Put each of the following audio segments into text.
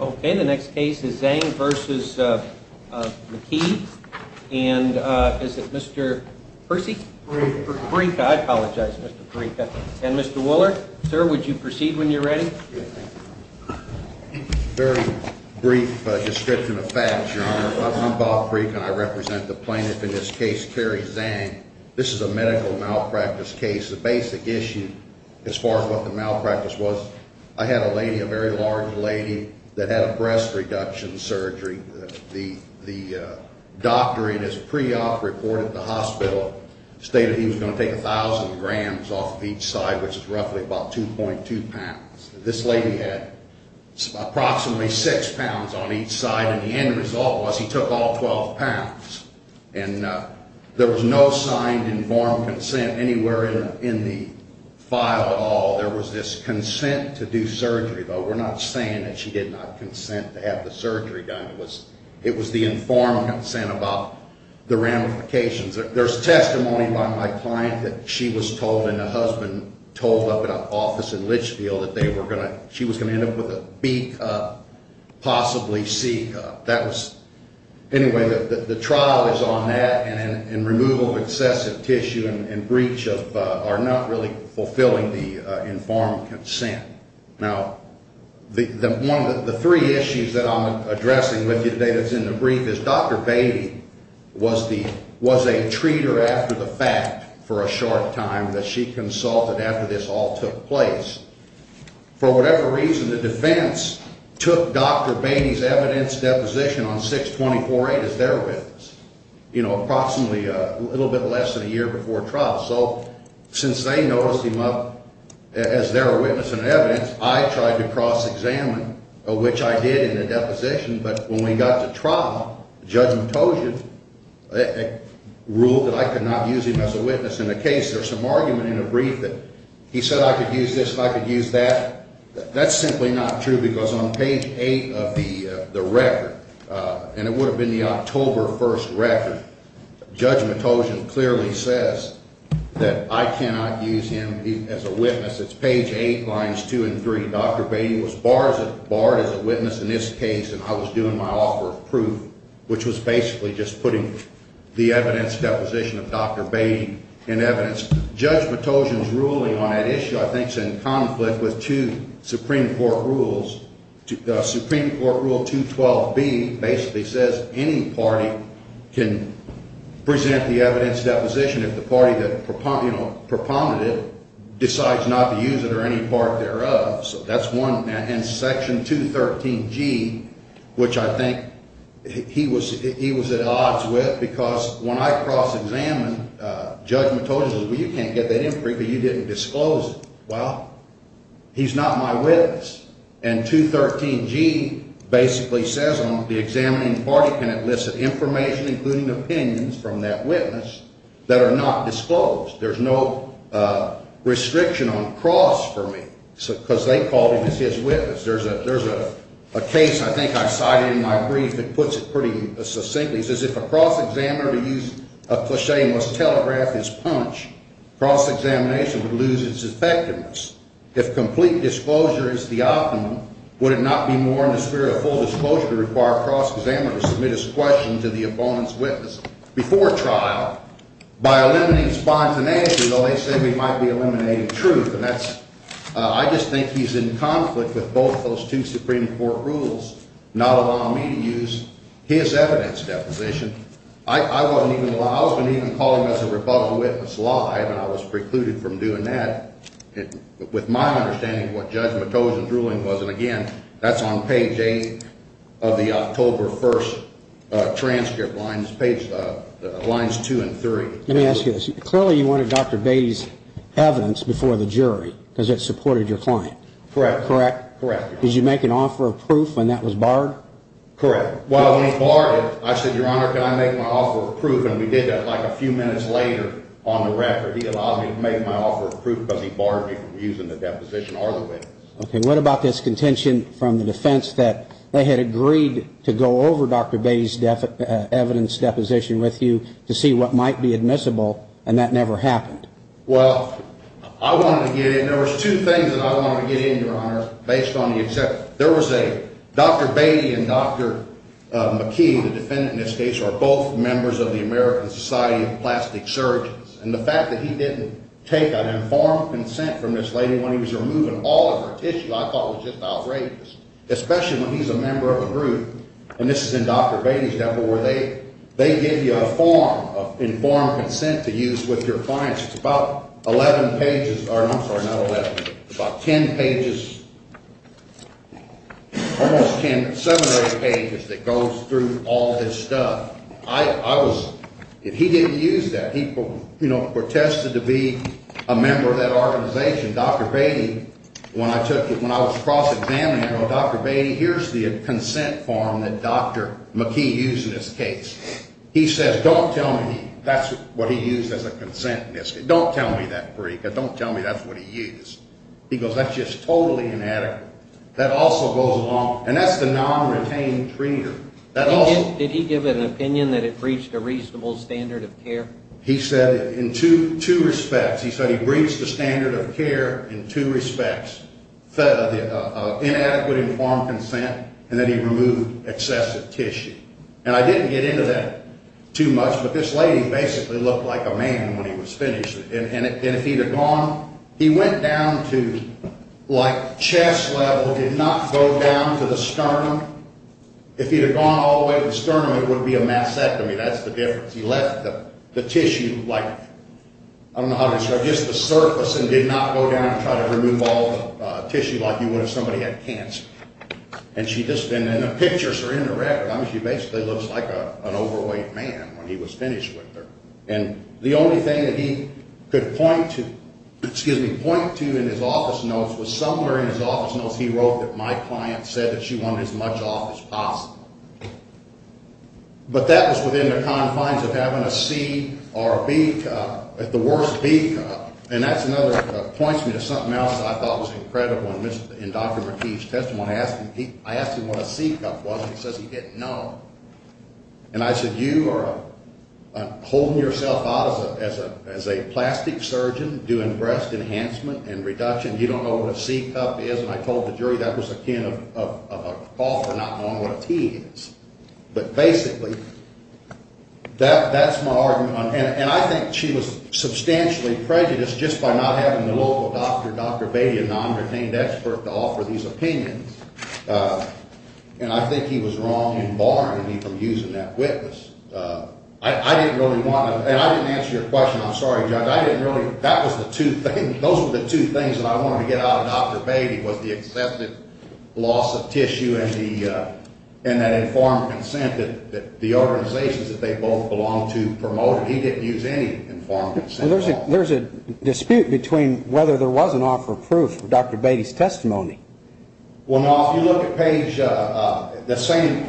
Okay, the next case is Zang v. McKee. And is it Mr. Percy? Brieka. Brieka. I apologize, Mr. Brieka. And Mr. Wuller? Sir, would you proceed when you're ready? Very brief description of facts, Your Honor. I'm Bob Brieka and I represent the plaintiff in this case, Terry Zang. This is a medical malpractice case. The basic issue as far as what the malpractice was, I had a lady, a very large lady, that had a breast reduction surgery. The doctor in his pre-op report at the hospital stated he was going to take 1,000 grams off of each side, which is roughly about 2.2 pounds. This lady had approximately 6 pounds on each side, and the end result was he took all 12 pounds. There was this consent to do surgery, though. We're not saying that she did not consent to have the surgery done. It was the informed consent about the ramifications. There's testimony by my client that she was told and her husband told up at an office in Litchfield that she was going to end up with a beak up, possibly C cup. Anyway, the trial is on that, and removal of excessive tissue and breach are not really fulfilling the informed consent. Now, the three issues that I'm addressing with you today that's in the brief is Dr. Beatty was a treater after the fact for a short time that she consulted after this all took place. For whatever reason, the defense took Dr. Beatty's evidence deposition on 6-24-8 as their witness, you know, approximately a little bit less than a year before trial. So since they noticed him up as their witness and evidence, I tried to cross-examine, which I did in the deposition, but when we got to trial, Judge Matosian ruled that I could not use him as a witness in the case. There's some argument in the brief that he said I could use this and I could use that. That's simply not true because on page 8 of the record, and it would have been the October 1st record, Judge Matosian clearly says that I cannot use him as a witness. It's page 8, lines 2 and 3. Dr. Beatty was barred as a witness in this case, and I was doing my offer of proof, which was basically just putting the evidence deposition of Dr. Beatty in evidence. Judge Matosian's ruling on that issue I think is in conflict with two Supreme Court rules. The Supreme Court rule 212B basically says any party can present the evidence deposition if the party that, you know, propounded it decides not to use it or any part thereof. So that's one, and section 213G, which I think he was at odds with because when I cross-examined, Judge Matosian said, well, you can't get that in the brief because you didn't disclose it. Well, he's not my witness, and 213G basically says the examining party can elicit information, including opinions from that witness, that are not disclosed. There's no restriction on cross for me because they called him as his witness. There's a case I think I cited in my brief that puts it pretty succinctly. It says if a cross-examiner to use a cliche must telegraph his punch, cross-examination would lose its effectiveness. If complete disclosure is the optimum, would it not be more in the spirit of full disclosure to require a cross-examiner to submit his question to the opponent's witness before trial by eliminating spontaneity, though they say we might be eliminating truth, and that's, I just think he's in conflict with both those two Supreme Court rules not allowing me to use his evidence deposition. I was even calling this a rebuttal witness lie, and I was precluded from doing that with my understanding of what Judge Matos's ruling was, and again, that's on page 8 of the October 1st transcript, lines 2 and 3. Let me ask you this. Clearly you wanted Dr. Beatty's evidence before the jury because it supported your client. Correct. Correct? Correct. Did you make an offer of proof when that was barred? Correct. Well, when he barred it, I said, Your Honor, can I make my offer of proof? And we did that like a few minutes later on the record. He allowed me to make my offer of proof because he barred me from using the deposition or the witness. Okay. What about this contention from the defense that they had agreed to go over Dr. Beatty's evidence deposition with you to see what might be admissible, and that never happened? Well, I wanted to get in. There was two things that I wanted to get in, Your Honor, based on the exception. Dr. Beatty and Dr. McKee, the defendant in this case, are both members of the American Society of Plastic Surgeons, and the fact that he didn't take an informed consent from this lady when he was removing all of her tissue I thought was just outrageous, especially when he's a member of a group, and this is in Dr. Beatty's deposit, where they give you a form of informed consent to use with your clients. It's about 11 pages, or I'm sorry, not 11, about 10 pages, almost 10, seven or eight pages that goes through all of his stuff. I was, if he didn't use that, he, you know, protested to be a member of that organization. Dr. Beatty, when I took it, when I was cross-examining him, I go, Dr. Beatty, here's the consent form that Dr. McKee used in this case. He says, don't tell me that's what he used as a consent in this case. Don't tell me that, Perica, don't tell me that's what he used. He goes, that's just totally inadequate. That also goes along, and that's the non-retained treater. Did he give an opinion that it breached a reasonable standard of care? He said in two respects. He said he breached the standard of care in two respects, inadequate informed consent, and that he removed excessive tissue. And I didn't get into that too much, but this lady basically looked like a man when he was finished. And if he'd have gone, he went down to like chest level, did not go down to the sternum. If he'd have gone all the way to the sternum, it would be a mastectomy. That's the difference. He left the tissue like, I don't know how to describe it, just the surface and did not go down and try to remove all the tissue like you would if somebody had cancer. And the pictures are in the record. I mean, she basically looks like an overweight man when he was finished with her. And the only thing that he could point to in his office notes was somewhere in his office notes he wrote that my client said that she wanted as much off as possible. But that was within the confines of having a C or a B cut, the worst B cut. And that points me to something else I thought was incredible. In Dr. Marti's testimony, I asked him what a C cup was, and he says he didn't know. And I said, you are holding yourself out as a plastic surgeon doing breast enhancement and reduction. You don't know what a C cup is. And I told the jury that was akin of an author not knowing what a T is. But basically, that's my argument. And I think she was substantially prejudiced just by not having the local doctor, Dr. Beatty, an undertained expert to offer these opinions. And I think he was wrong in barring me from using that witness. I didn't really want to. And I didn't answer your question. I'm sorry, Judge. I didn't really. That was the two things. Those were the two things that I wanted to get out of Dr. Beatty was the accepted loss of tissue and that informed consent that the organizations that they both belong to promoted. He didn't use any informed consent at all. Well, there's a dispute between whether there was an offer of proof for Dr. Beatty's testimony. Well, now, if you look at page the same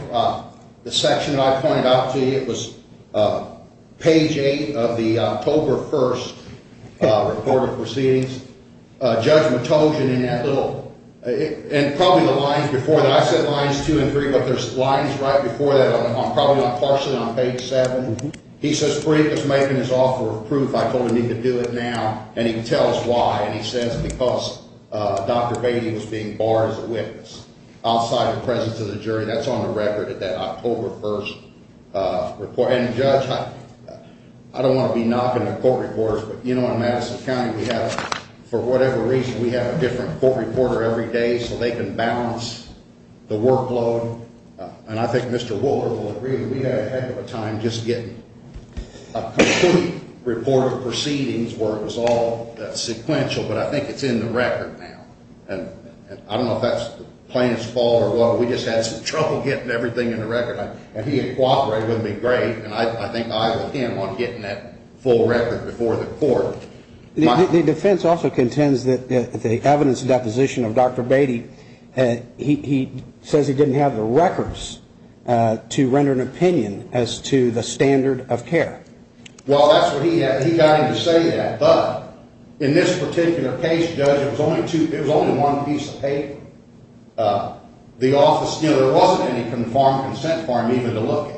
section that I pointed out to you, it was page 8 of the October 1st recorded proceedings. Judge Matogian, in that little ‑‑ and probably the lines before that. I said lines 2 and 3, but there's lines right before that, probably not partially, on page 7. He says, Freed was making his offer of proof. I told him he could do it now, and he can tell us why. And he says because Dr. Beatty was being barred as a witness outside the presence of the jury. That's on the record at that October 1st report. And, Judge, I don't want to be knocking on court records, but, you know, in Madison County we have, for whatever reason, we have a different court reporter every day so they can balance the workload. And I think Mr. Walter will agree that we had a heck of a time just getting a complete report of proceedings where it was all sequential, but I think it's in the record now. And I don't know if that's the plaintiff's fault or what, but we just had some trouble getting everything in the record. And he had cooperated with me great, and I think I owe him on getting that full record before the court. The defense also contends that the evidence deposition of Dr. Beatty, he says he didn't have the records to render an opinion as to the standard of care. Well, that's what he had. He got him to say that. But in this particular case, Judge, it was only one piece of paper. The office, you know, there wasn't any confirmed consent for him even to look at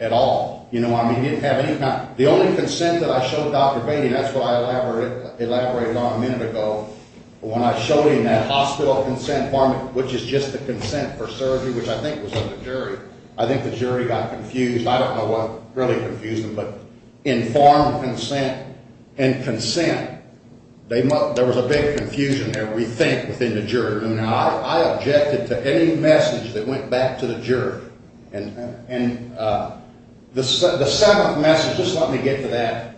at all. You know what I mean? He didn't have any kind of, the only consent that I showed Dr. Beatty, and that's what I elaborated on a minute ago, when I showed him that hospital consent form, which is just the consent for surgery, which I think was on the jury, I think the jury got confused. I don't know what really confused them, but informed consent and consent, there was a big confusion there, we think, within the jury. I objected to any message that went back to the jury. And the seventh message, just let me get to that.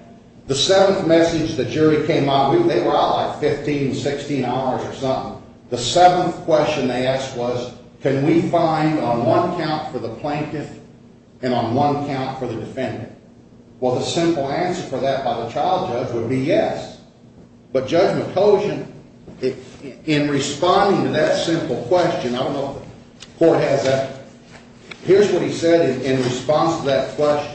The seventh message the jury came out, they were out like 15, 16 hours or something, the seventh question they asked was, can we find on one count for the plaintiff and on one count for the defendant? Well, the simple answer for that by the trial judge would be yes. But Judge McCosin, in responding to that simple question, I don't know if the court has that, here's what he said in response to that question.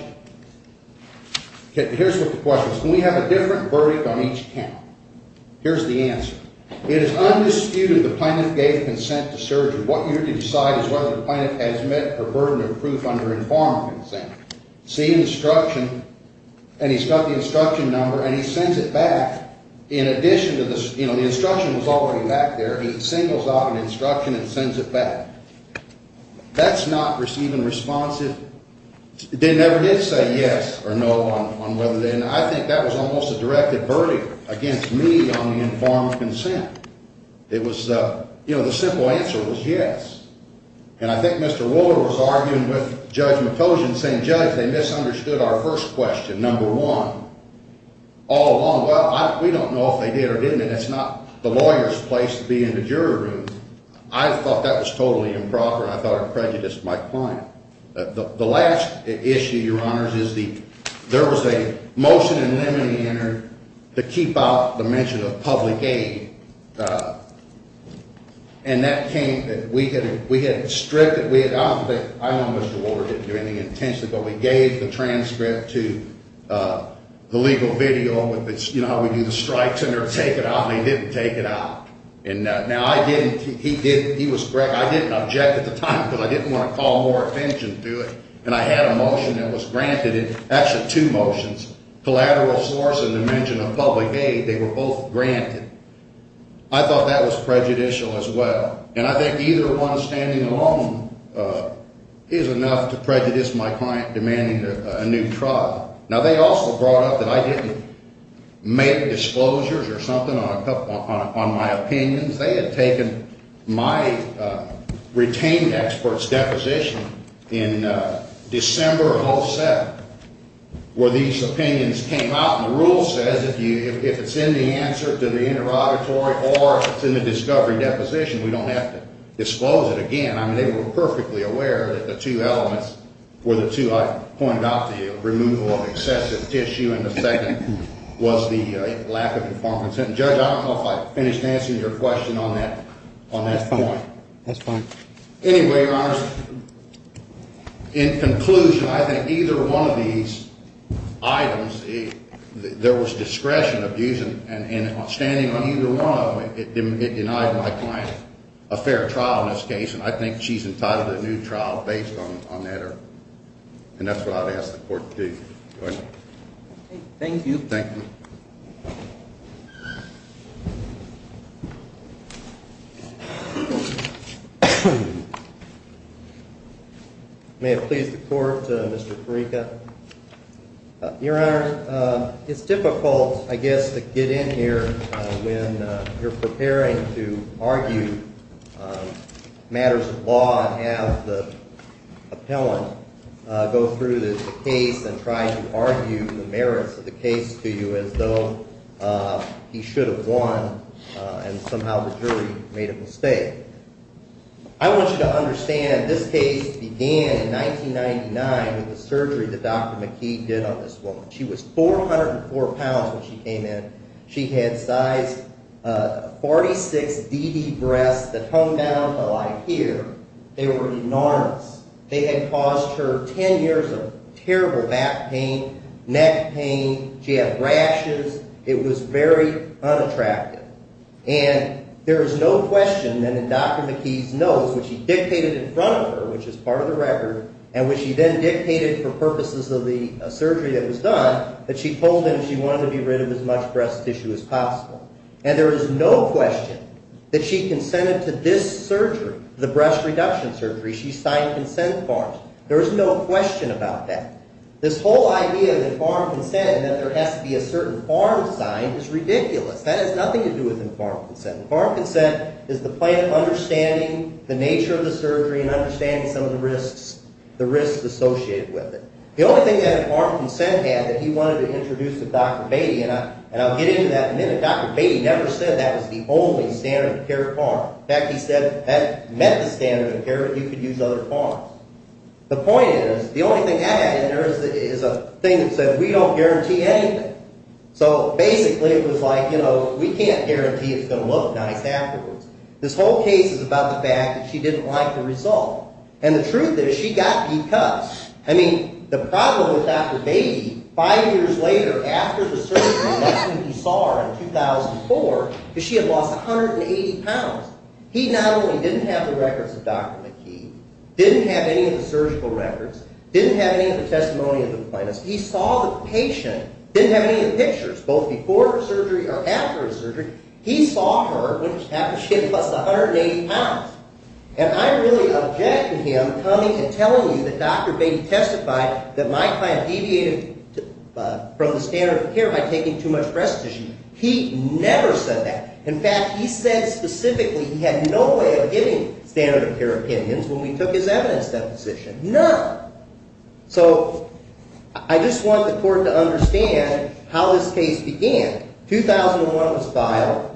Here's what the question is. Can we have a different verdict on each count? Here's the answer. It is undisputed the plaintiff gave consent to surgery. What you need to decide is whether the plaintiff has met her burden of proof under informed consent. See instruction, and he's got the instruction number, and he sends it back. In addition to this, you know, the instruction was already back there. He singles out an instruction and sends it back. That's not receiving responsive. They never did say yes or no on whether they, and I think that was almost a directed verdict against me on the informed consent. It was, you know, the simple answer was yes. And I think Mr. Ruler was arguing with Judge McCosin saying, Judge, they misunderstood our first question, number one, all along. Well, we don't know if they did or didn't, and it's not the lawyer's place to be in the jury room. I thought that was totally improper, and I thought it prejudiced my client. The last issue, Your Honors, is there was a motion in limine enter to keep out the mention of public aid, and that came that we had stripped it. I don't think, I know Mr. Ruler didn't do anything intentionally, but we gave the transcript to the legal video, you know, how we do the strikes, and they're going to take it out, and they didn't take it out. Now, I didn't, he was, I didn't object at the time because I didn't want to call more attention to it, and I had a motion that was granted, actually two motions, collateral source and the mention of public aid, they were both granted. I thought that was prejudicial as well, and I think either one standing alone is enough to prejudice my client demanding a new trial. Now, they also brought up that I didn't make disclosures or something on my opinions. They had taken my retained expert's deposition in December of 2007 where these opinions came out, and the rule says if it's in the answer to the interrogatory or if it's in the discovery deposition, we don't have to disclose it again. I mean, they were perfectly aware that the two elements were the two I pointed out to you, removal of excessive tissue, and the second was the lack of informed consent. Judge, I don't know if I finished answering your question on that point. That's fine. Anyway, Your Honor, in conclusion, I think either one of these items, there was discretion of using and standing on either one of them. It denied my client a fair trial in this case, and I think she's entitled to a new trial based on that. And that's what I would ask the court to do. Thank you. Thank you. Thank you. May it please the Court, Mr. Farika. Your Honor, it's difficult, I guess, to get in here when you're preparing to argue matters of law and not have the appellant go through the case and try to argue the merits of the case to you as though he should have won and somehow the jury made a mistake. I want you to understand that this case began in 1999 with the surgery that Dr. McKee did on this woman. She was 404 pounds when she came in. She had size 46 DD breasts that hung down to like here. They were enormous. They had caused her 10 years of terrible back pain, neck pain. She had rashes. It was very unattractive. And there is no question that in Dr. McKee's notes, which he dictated in front of her, which is part of the record, and which he then dictated for purposes of the surgery that was done, that she told him she wanted to be rid of as much breast tissue as possible. And there is no question that she consented to this surgery, the breast reduction surgery. She signed consent forms. There is no question about that. This whole idea that farm consent and that there has to be a certain form signed is ridiculous. That has nothing to do with farm consent. Farm consent is the plan of understanding the nature of the surgery and understanding some of the risks associated with it. The only thing that farm consent had that he wanted to introduce to Dr. Beatty, and I'll get into that in a minute, Dr. Beatty never said that was the only standard of care farm. In fact, he said that meant the standard of care that you could use other farms. The point is, the only thing I had in there is a thing that said we don't guarantee anything. So basically it was like, you know, we can't guarantee it's going to look nice afterwards. This whole case is about the fact that she didn't like the result. And the truth is, she got B-cuts. I mean, the problem with Dr. Beatty, five years later, after the surgery, that's when he saw her in 2004, is she had lost 180 pounds. He not only didn't have the records of Dr. McKee, didn't have any of the surgical records, didn't have any of the testimony of the plaintiffs. He saw the patient, didn't have any of the pictures, both before the surgery or after the surgery. He saw her after she had lost 180 pounds. And I really object to him coming and telling you that Dr. Beatty testified that my client deviated from the standard of care by taking too much breast tissue. He never said that. In fact, he said specifically he had no way of getting standard of care opinions when we took his evidence deposition. None. So I just want the court to understand how this case began. 2001 was filed.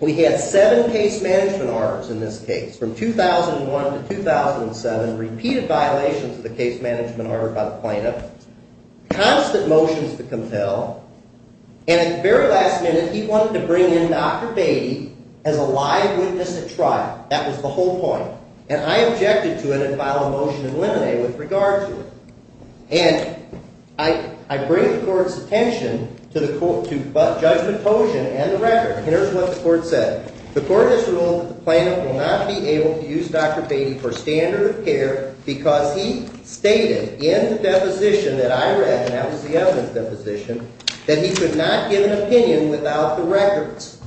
We had seven case management orders in this case. From 2001 to 2007, repeated violations of the case management order by the plaintiff. Constant motions to compel. And at the very last minute, he wanted to bring in Dr. Beatty as a live witness at trial. That was the whole point. And I objected to it and filed a motion in limine with regard to it. And I bring the court's attention to the judgment potion and the record. Here's what the court said. The court has ruled that the plaintiff will not be able to use Dr. Beatty for standard of care because he stated in the deposition that I read, and that was the evidence deposition, that he could not give an opinion without the records.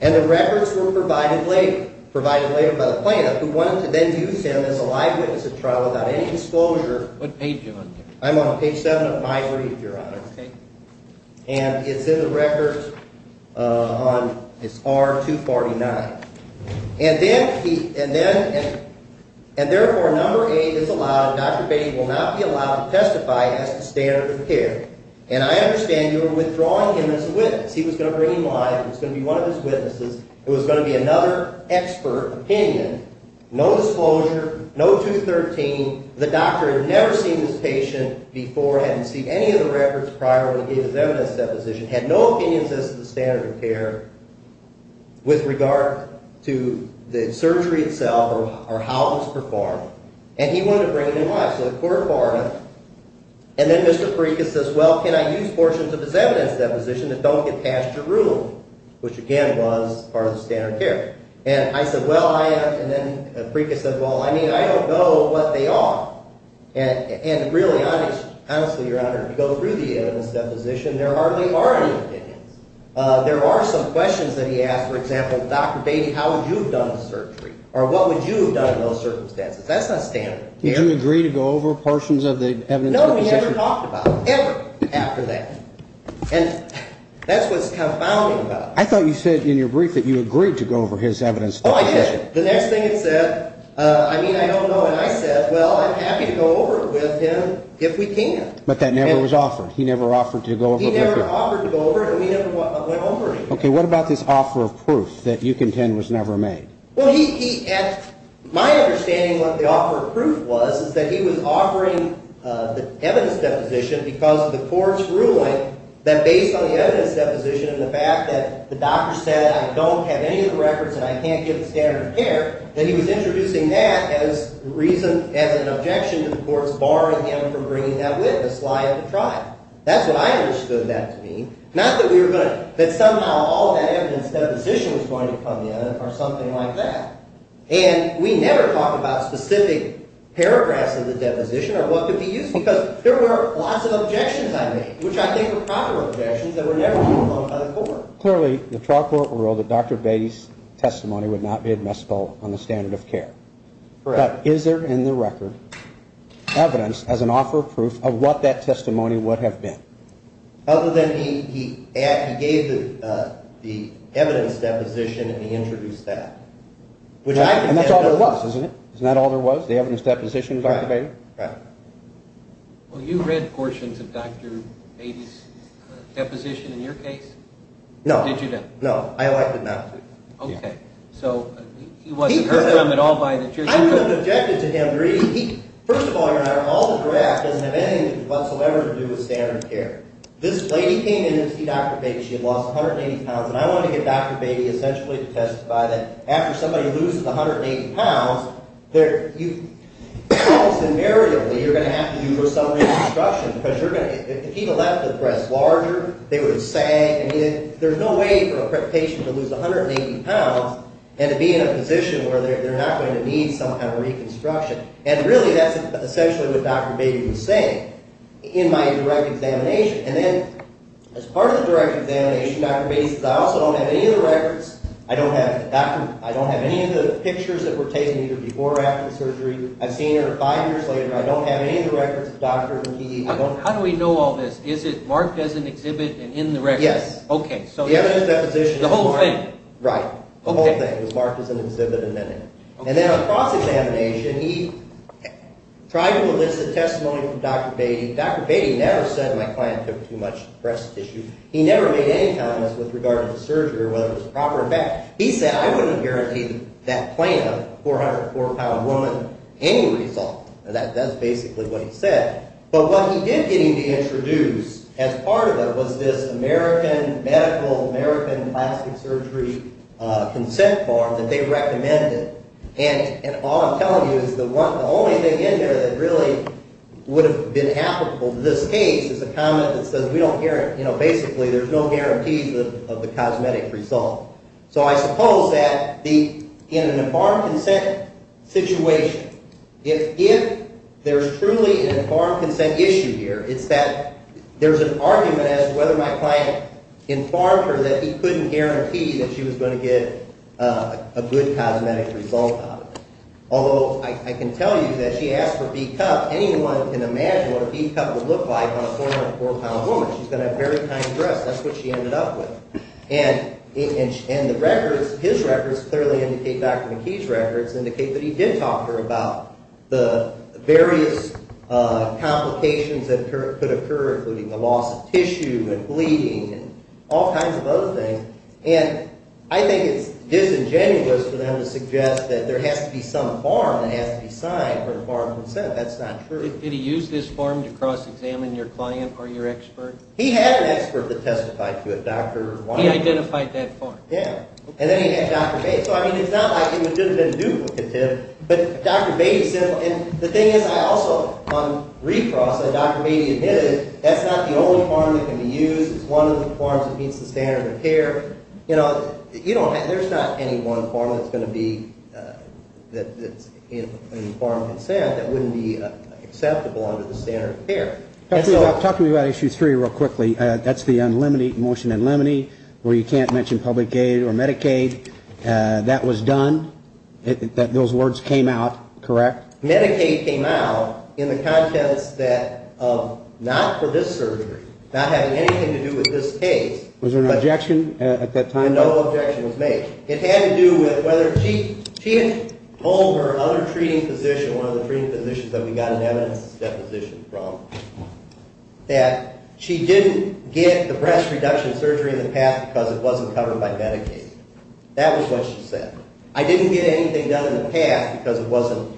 And the records were provided later, provided later by the plaintiff, who wanted to then use him as a live witness at trial without any disclosure. What page are you on here? I'm on page 7 of my brief, Your Honor. Okay. And it's in the records. It's R249. And therefore, number 8 is allowed. Dr. Beatty will not be allowed to testify as the standard of care. And I understand you are withdrawing him as a witness. He was going to bring him live. He was going to be one of his witnesses. It was going to be another expert opinion. No disclosure. No 213. The doctor had never seen this patient before, hadn't seen any of the records prior when he gave his evidence deposition, had no opinions as to the standard of care with regard to the surgery itself or how it was performed. And he wanted to bring him in live. So the court barred him. And then Mr. Freca says, well, can I use portions of his evidence deposition that don't get passed your rule, which, again, was part of the standard of care. And I said, well, I am. And really, honestly, Your Honor, to go through the evidence deposition, there hardly are any opinions. There are some questions that he asked. For example, Dr. Beatty, how would you have done the surgery? Or what would you have done in those circumstances? That's not standard of care. Did you agree to go over portions of the evidence deposition? No, we never talked about it, ever after that. And that's what's confounding about it. I thought you said in your brief that you agreed to go over his evidence deposition. Oh, I did. The next thing it said, I mean, I don't know. And I said, well, I'm happy to go over it with him if we can. But that never was offered. He never offered to go over it? He never offered to go over it, and we never went over it. Okay, what about this offer of proof that you contend was never made? Well, my understanding of what the offer of proof was is that he was offering the evidence deposition because of the court's ruling that based on the evidence deposition and the fact that the doctor said I don't have any of the records and I can't get the standard of care, that he was introducing that as an objection to the court's barring him from bringing that witness, lying to trial. That's what I understood that to mean. Not that somehow all that evidence deposition was going to come in or something like that. And we never talked about specific paragraphs of the deposition or what could be used because there were lots of objections I made, which I think were proper objections that were never made by the court. Clearly, the trial court ruled that Dr. Beatty's testimony would not be admissible on the standard of care. But is there in the record evidence as an offer of proof of what that testimony would have been? Other than he gave the evidence deposition and he introduced that. And that's all there was, isn't it? Isn't that all there was, the evidence deposition of Dr. Beatty? Right. Well, you read portions of Dr. Beatty's deposition in your case? No. Did you not? No, I elected not to. Okay. So he wasn't hurt from it all by the jury? I would have objected to him. First of all, all the draft doesn't have anything whatsoever to do with standard of care. This lady came in to see Dr. Beatty. She had lost 180 pounds, and I wanted to get Dr. Beatty essentially to testify that after somebody loses 180 pounds, almost invariably you're going to have to do some reconstruction because if he would have left the breast larger, there's no way for a patient to lose 180 pounds and to be in a position where they're not going to need some kind of reconstruction. And really that's essentially what Dr. Beatty was saying in my direct examination. And then as part of the direct examination, Dr. Beatty says, I also don't have any of the records, I don't have any of the pictures that were taken either before or after the surgery. I've seen her five years later. I don't have any of the records of doctors and PE. How do we know all this? Is it marked as an exhibit and in the records? Yes. Okay. The evidence deposition is marked. The whole thing? Right. The whole thing is marked as an exhibit and in it. And then on cross-examination, he tried to elicit testimony from Dr. Beatty. Dr. Beatty never said my client took too much breast tissue. He never made any comments with regard to the surgery or whether it was a proper effect. He said, I wouldn't guarantee that client, a 404-pound woman, any result. And that's basically what he said. But what he did get me to introduce as part of it was this American medical, American plastic surgery consent form that they recommended. And all I'm telling you is the only thing in there that really would have been applicable to this case is a comment that says we don't guarantee, you know, basically there's no guarantees of the cosmetic result. So I suppose that in an informed consent situation, if there's truly an informed consent issue here, it's that there's an argument as to whether my client informed her that he couldn't guarantee that she was going to get a good cosmetic result out of it. Although I can tell you that she asked for B-cup. Anyone can imagine what a B-cup would look like on a 404-pound woman. She's going to have very tiny breasts. That's what she ended up with. And the records, his records clearly indicate, Dr. McKee's records indicate that he did talk to her about the various complications that could occur, including the loss of tissue and bleeding and all kinds of other things. And I think it's disingenuous for them to suggest that there has to be some form that has to be signed for informed consent. That's not true. Did he use this form to cross-examine your client or your expert? He had an expert that testified to it, He identified that form. Yeah. And then he had Dr. Bates. So, I mean, it's not like it would have been duplicative, but Dr. Bates said, and the thing is, I also, on recross, said Dr. Bates admitted that's not the only form that can be used. It's one of the forms that meets the standard of care. You know, you don't have, there's not any one form that's going to be, that's informed consent that wouldn't be acceptable under the standard of care. Talk to me about issue three real quickly. That's the motion in limine where you can't mention public aid or Medicaid. That was done. Those words came out, correct? Medicaid came out in the contents that of not for this surgery, not having anything to do with this case. Was there an objection at that time? No objection was made. It had to do with whether, she had told her other treating physician, one of the treating physicians that we got an evidence deposition from, that she didn't get the breast reduction surgery in the past because it wasn't covered by Medicaid. That was what she said. I didn't get anything done in the past because it wasn't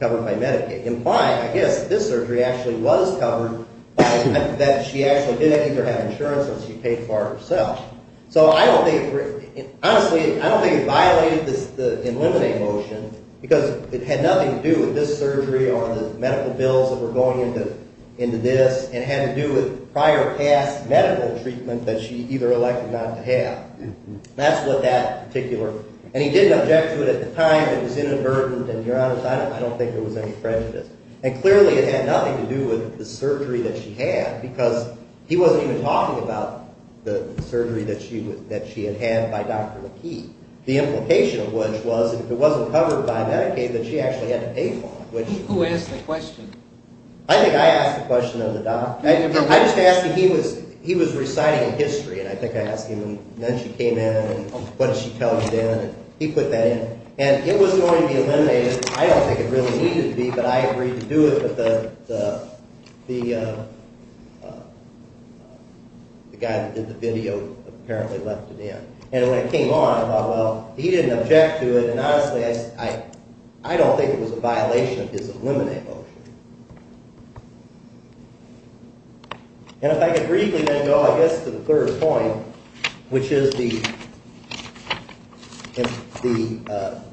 covered by Medicaid. Implied, I guess, this surgery actually was covered by, that she actually didn't either have insurance or she paid for it herself. So I don't think, honestly, I don't think it violated the in limine motion because it had nothing to do with this surgery or the medical bills that were going into this and had to do with prior past medical treatment that she either elected not to have. That's what that particular, and he didn't object to it at the time, it was inadvertent, and to be honest, I don't think there was any prejudice. And clearly it had nothing to do with the surgery that she had because he wasn't even talking about the surgery that she had had by Dr. McKee, the implication of which was if it wasn't covered by Medicaid that she actually had to pay for it. Who asked the question? I think I asked the question of the doctor. I just asked him, he was reciting a history, and I think I asked him, and then she came in and what did she tell him then, and he put that in. And it was going to be eliminated, I don't think it really needed to be, but I agreed to do it, but the guy that did the video apparently left it in. And when it came on, I thought, well, he didn't object to it, and honestly, I don't think it was a violation of his eliminate motion. And if I could briefly then go, I guess, to the third point, which is the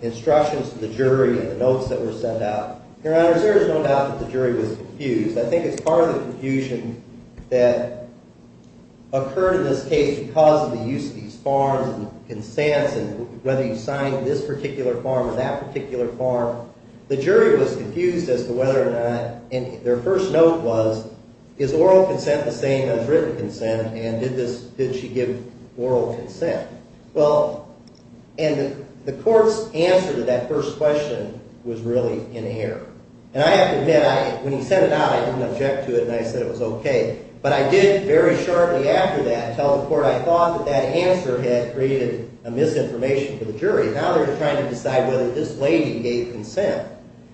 instructions to the jury and the notes that were sent out. Your Honor, there is no doubt that the jury was confused. I think it's part of the confusion that occurred in this case because of the use of these forms and the consents and whether you signed this particular form or that particular form. The jury was confused as to whether or not, and their first note was, is oral consent the same as written consent, and did she give oral consent? Well, and the court's answer to that first question was really in error. And I have to admit, when he sent it out, I didn't object to it and I said it was okay, but I did very shortly after that tell the court that I thought that that answer had created a misinformation for the jury. Now they're trying to decide whether this lady gave consent.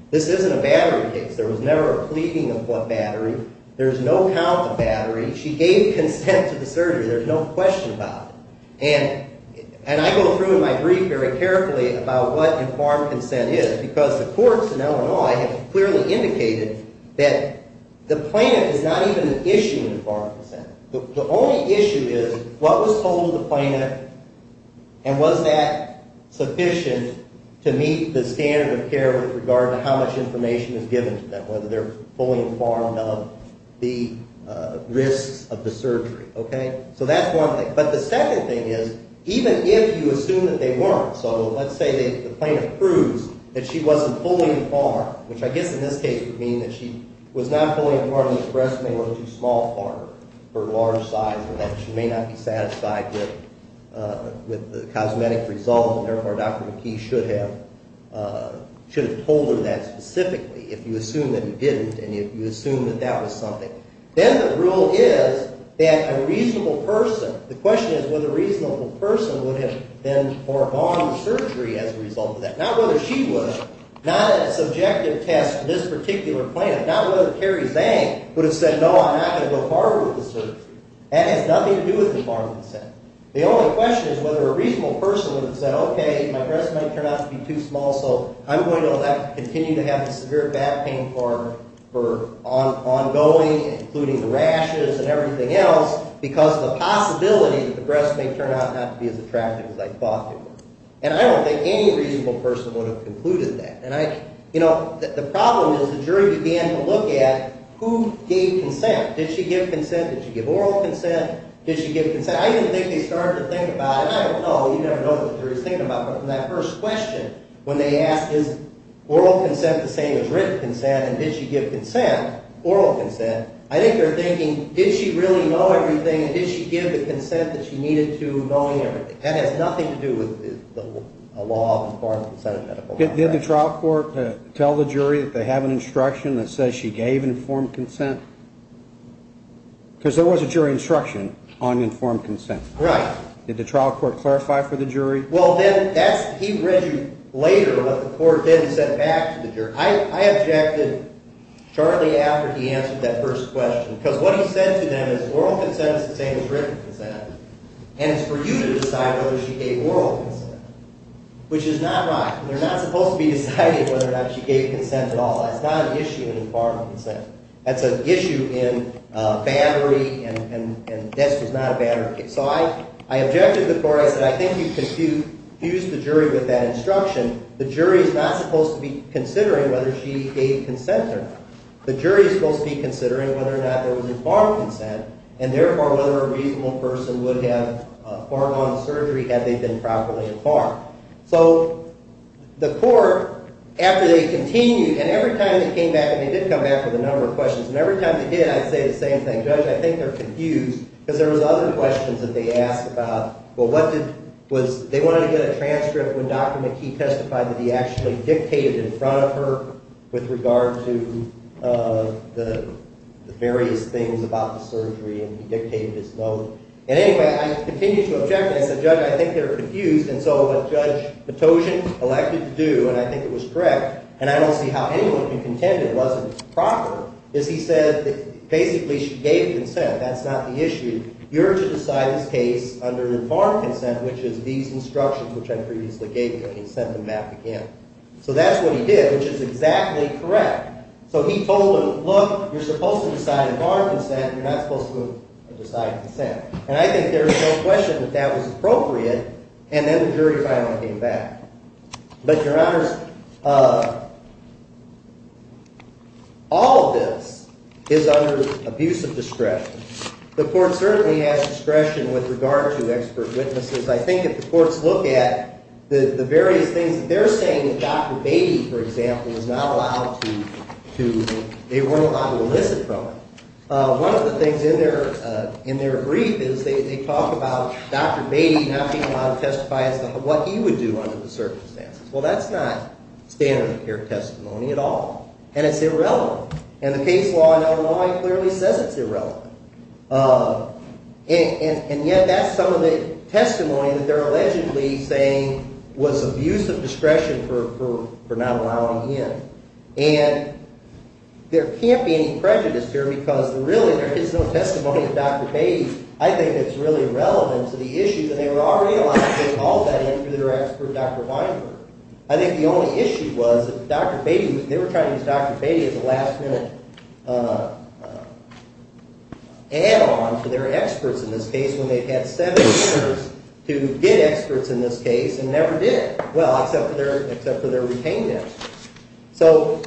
This isn't a battery case. There was never a pleading of what battery. There's no count of battery. She gave consent to the surgery. There's no question about it. And I go through in my brief very carefully about what informed consent is because the courts in Illinois have clearly indicated that the plan is not even an issue in informed consent. The only issue is what was told to the plaintiff and was that sufficient to meet the standard of care with regard to how much information is given to them, whether they're fully informed of the risks of the surgery. Okay? So that's one thing. But the second thing is, even if you assume that they weren't, so let's say the plaintiff proves that she wasn't fully informed, which I guess in this case would mean that she was not fully informed and her breasts may look too small for her, her large size, and that she may not be satisfied with the cosmetic result, and therefore Dr. McKee should have told her that specifically if you assume that he didn't and if you assume that that was something. Then the rule is that a reasonable person, the question is whether a reasonable person would have been for bond surgery as a result of that, not whether she was, not a subjective test to this particular plaintiff, not whether Carrie Zhang would have said, no, I'm not going to go farther with the surgery. That has nothing to do with the farm consent. The only question is whether a reasonable person would have said, okay, my breasts might turn out to be too small, so I'm going to continue to have the severe back pain for ongoing, including the rashes and everything else, because of the possibility that the breasts may turn out not to be as attractive as I thought they were. And I don't think any reasonable person would have concluded that. The problem is the jury began to look at who gave consent. Did she give consent? Did she give oral consent? Did she give consent? I didn't think they started to think about it. I don't know. You never know what the jury is thinking about. But from that first question, when they asked is oral consent the same as written consent and did she give consent, oral consent, I think they're thinking, did she really know everything and did she give the consent that she needed to knowing everything? That has nothing to do with the law of informed consent in medical law. Did the trial court tell the jury that they have an instruction that says she gave informed consent? Because there was a jury instruction on informed consent. Right. Did the trial court clarify for the jury? Well, then he read you later what the court did and said back to the jury. I objected shortly after he answered that first question, because what he said to them is oral consent is the same as written consent, and it's for you to decide whether she gave oral consent, which is not right. They're not supposed to be deciding whether or not she gave consent at all. That's not an issue in informed consent. That's an issue in bannery, and death is not a bannery. So I objected to the court. I said I think you confused the jury with that instruction. The jury is not supposed to be considering whether she gave consent or not. The jury is supposed to be considering whether or not there was informed consent and, therefore, whether a reasonable person would have foregone surgery had they been properly informed. So the court, after they continued, and every time they came back, and they did come back with a number of questions, and every time they did, I'd say the same thing. Judge, I think they're confused, because there was other questions that they asked about. Well, what did they want to get a transcript when Dr. McKee testified that he actually dictated in front of her with regard to the various things about the surgery, and he dictated his note. And, anyway, I continued to object, and I said, Judge, I think they're confused. And so what Judge Petosian elected to do, and I think it was correct, and I don't see how anyone can contend it wasn't proper, is he said that basically she gave consent. That's not the issue. You're to decide this case under informed consent, which is these instructions, which I previously gave you, and he sent them back again. So that's what he did, which is exactly correct. So he told them, look, you're supposed to decide informed consent, and you're not supposed to decide consent. And I think there's no question that that was appropriate. And then the jury finally came back. But, Your Honors, all of this is under abuse of discretion. The court certainly has discretion with regard to expert witnesses. I think if the courts look at the various things that they're saying that Dr. Beatty, for example, is not allowed to do, they were allowed to elicit from him. One of the things in their brief is they talk about Dr. Beatty not being allowed to testify as to what he would do under the circumstances. Well, that's not standard of care testimony at all, and it's irrelevant. And the case law in Illinois clearly says it's irrelevant. And yet that's some of the testimony that they're allegedly saying was abuse of discretion for not allowing him. And there can't be any prejudice here because, really, there is no testimony of Dr. Beatty. I think it's really irrelevant to the issue that they were already allowed to take all that in for their expert, Dr. Weinberg. I think the only issue was that Dr. Beatty, they were trying to use Dr. Beatty as a last-minute add-on to their experts in this case when they've had seven years to get experts in this case and never did. Well, except for their retainment. So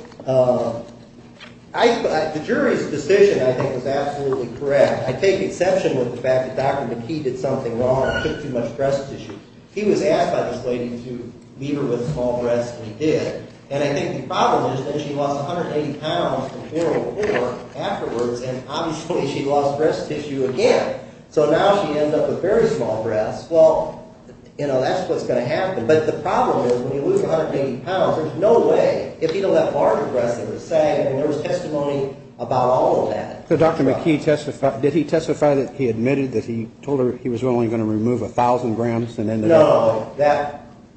the jury's decision, I think, is absolutely correct. I take exception with the fact that Dr. McKee did something wrong and took too much breast tissue. He was asked by this lady to leave her with a small breast, and he did. And I think the problem is that she lost 180 pounds from funeral poor afterwards, and obviously she lost breast tissue again. So now she ended up with very small breasts. Well, that's what's going to happen. But the problem is when you lose 180 pounds, there's no way, if you don't have large breasts that are sagging, there was testimony about all of that. So Dr. McKee testified, did he testify that he admitted that he told her he was only going to remove 1,000 grams? No.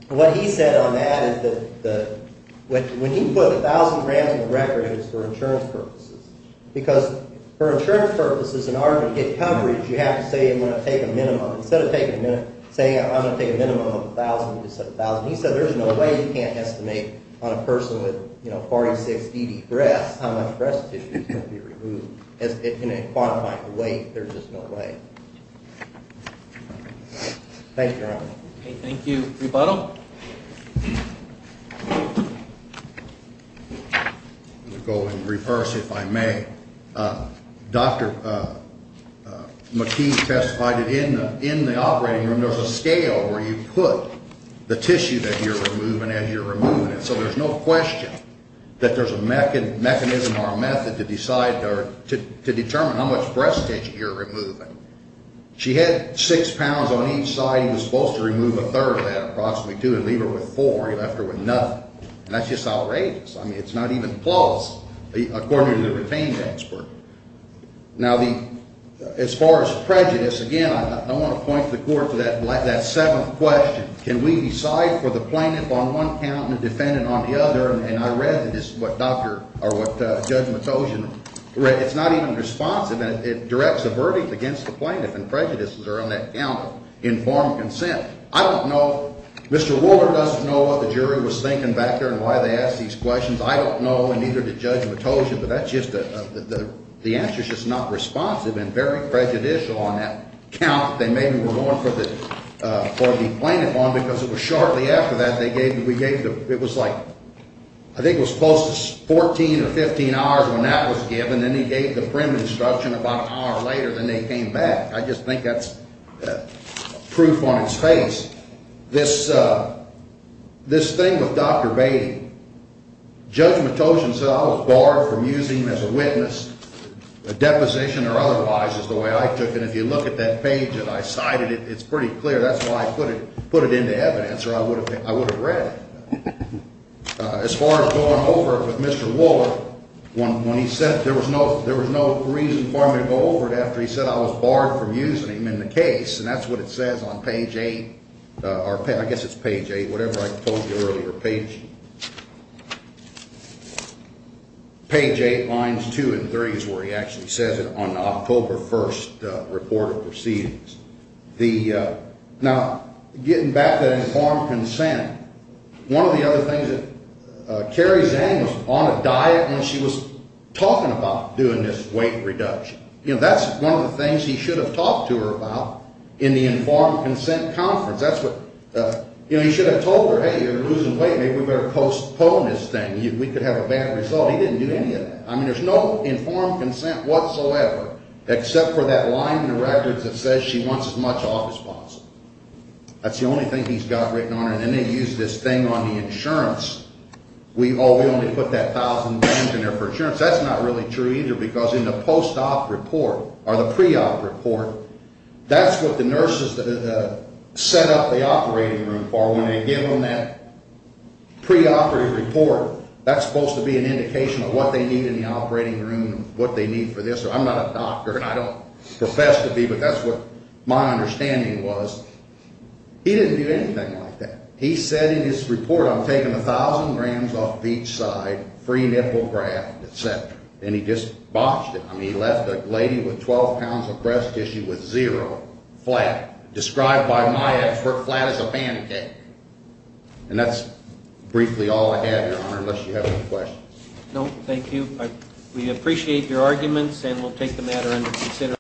What he said on that is that when he put 1,000 grams on the record, it was for insurance purposes. Because for insurance purposes, in order to get coverage, you have to say I'm going to take a minimum. He said there is no way you can't estimate on a person with 46 DD breasts how much breast tissue is going to be removed. In quantifying the weight, there's just no way. Thank you, Your Honor. Thank you. Rebuttal. I'm going to go in reverse, if I may. Dr. McKee testified that in the operating room, there's a scale where you put the tissue that you're removing as you're removing it. So there's no question that there's a mechanism or a method to decide or to determine how much breast tissue you're removing. She had six pounds on each side. He was supposed to remove a third of that, approximately two, and leave her with four. He left her with nothing. And that's just outrageous. I mean, it's not even close, according to the retained expert. Now, as far as prejudice, again, I want to point the court to that seventh question. Can we decide for the plaintiff on one count and the defendant on the other? And I read what Judge Matosian read. It's not even responsive, and it directs a verdict against the plaintiff, and prejudices are on that count of informed consent. I don't know. Mr. Wolder doesn't know what the jury was thinking back there and why they asked these questions. I don't know, and neither did Judge Matosian. But that's just a – the answer is just not responsive and very prejudicial on that count that they maybe were going for the plaintiff on, because it was shortly after that they gave – we gave the – it was like – I think it was close to 14 or 15 hours when that was given. Then he gave the prim instruction about an hour later, then they came back. I just think that's proof on its face. This thing with Dr. Beatty, Judge Matosian said I was barred from using him as a witness, a deposition or otherwise, is the way I took it. If you look at that page that I cited, it's pretty clear. That's why I put it into evidence or I would have read it. As far as going over it with Mr. Wolder, when he said there was no reason for me to go over it after he said I was barred from using him in the case, and that's what it says on page 8 – or I guess it's page 8, whatever I told you earlier. Page 8, lines 2 and 3 is where he actually says it on the October 1st report of proceedings. Now, getting back to informed consent, one of the other things that – Carrie Zhang was on a diet when she was talking about doing this weight reduction. That's one of the things he should have talked to her about in the informed consent conference. That's what – he should have told her, hey, you're losing weight. Maybe we better postpone this thing. We could have a bad result. He didn't do any of that. I mean, there's no informed consent whatsoever except for that line in the records that says she wants as much office funds. That's the only thing he's got written on her, and then they use this thing on the insurance. Oh, we only put that $1,000 in there for insurance. That's not really true either because in the post-op report or the pre-op report, that's what the nurses set up the operating room for. When they give them that pre-operative report, that's supposed to be an indication of what they need in the operating room and what they need for this. I'm not a doctor, and I don't profess to be, but that's what my understanding was. He didn't do anything like that. He said in his report, I'm taking 1,000 grams off each side, free nipple graft, et cetera, and he just botched it. I mean, he left a lady with 12 pounds of breast tissue with zero flat, described by my expert flat as a pancake. And that's briefly all I have, Your Honor, unless you have any questions. No, thank you. We appreciate your arguments, and we'll take the matter under consideration.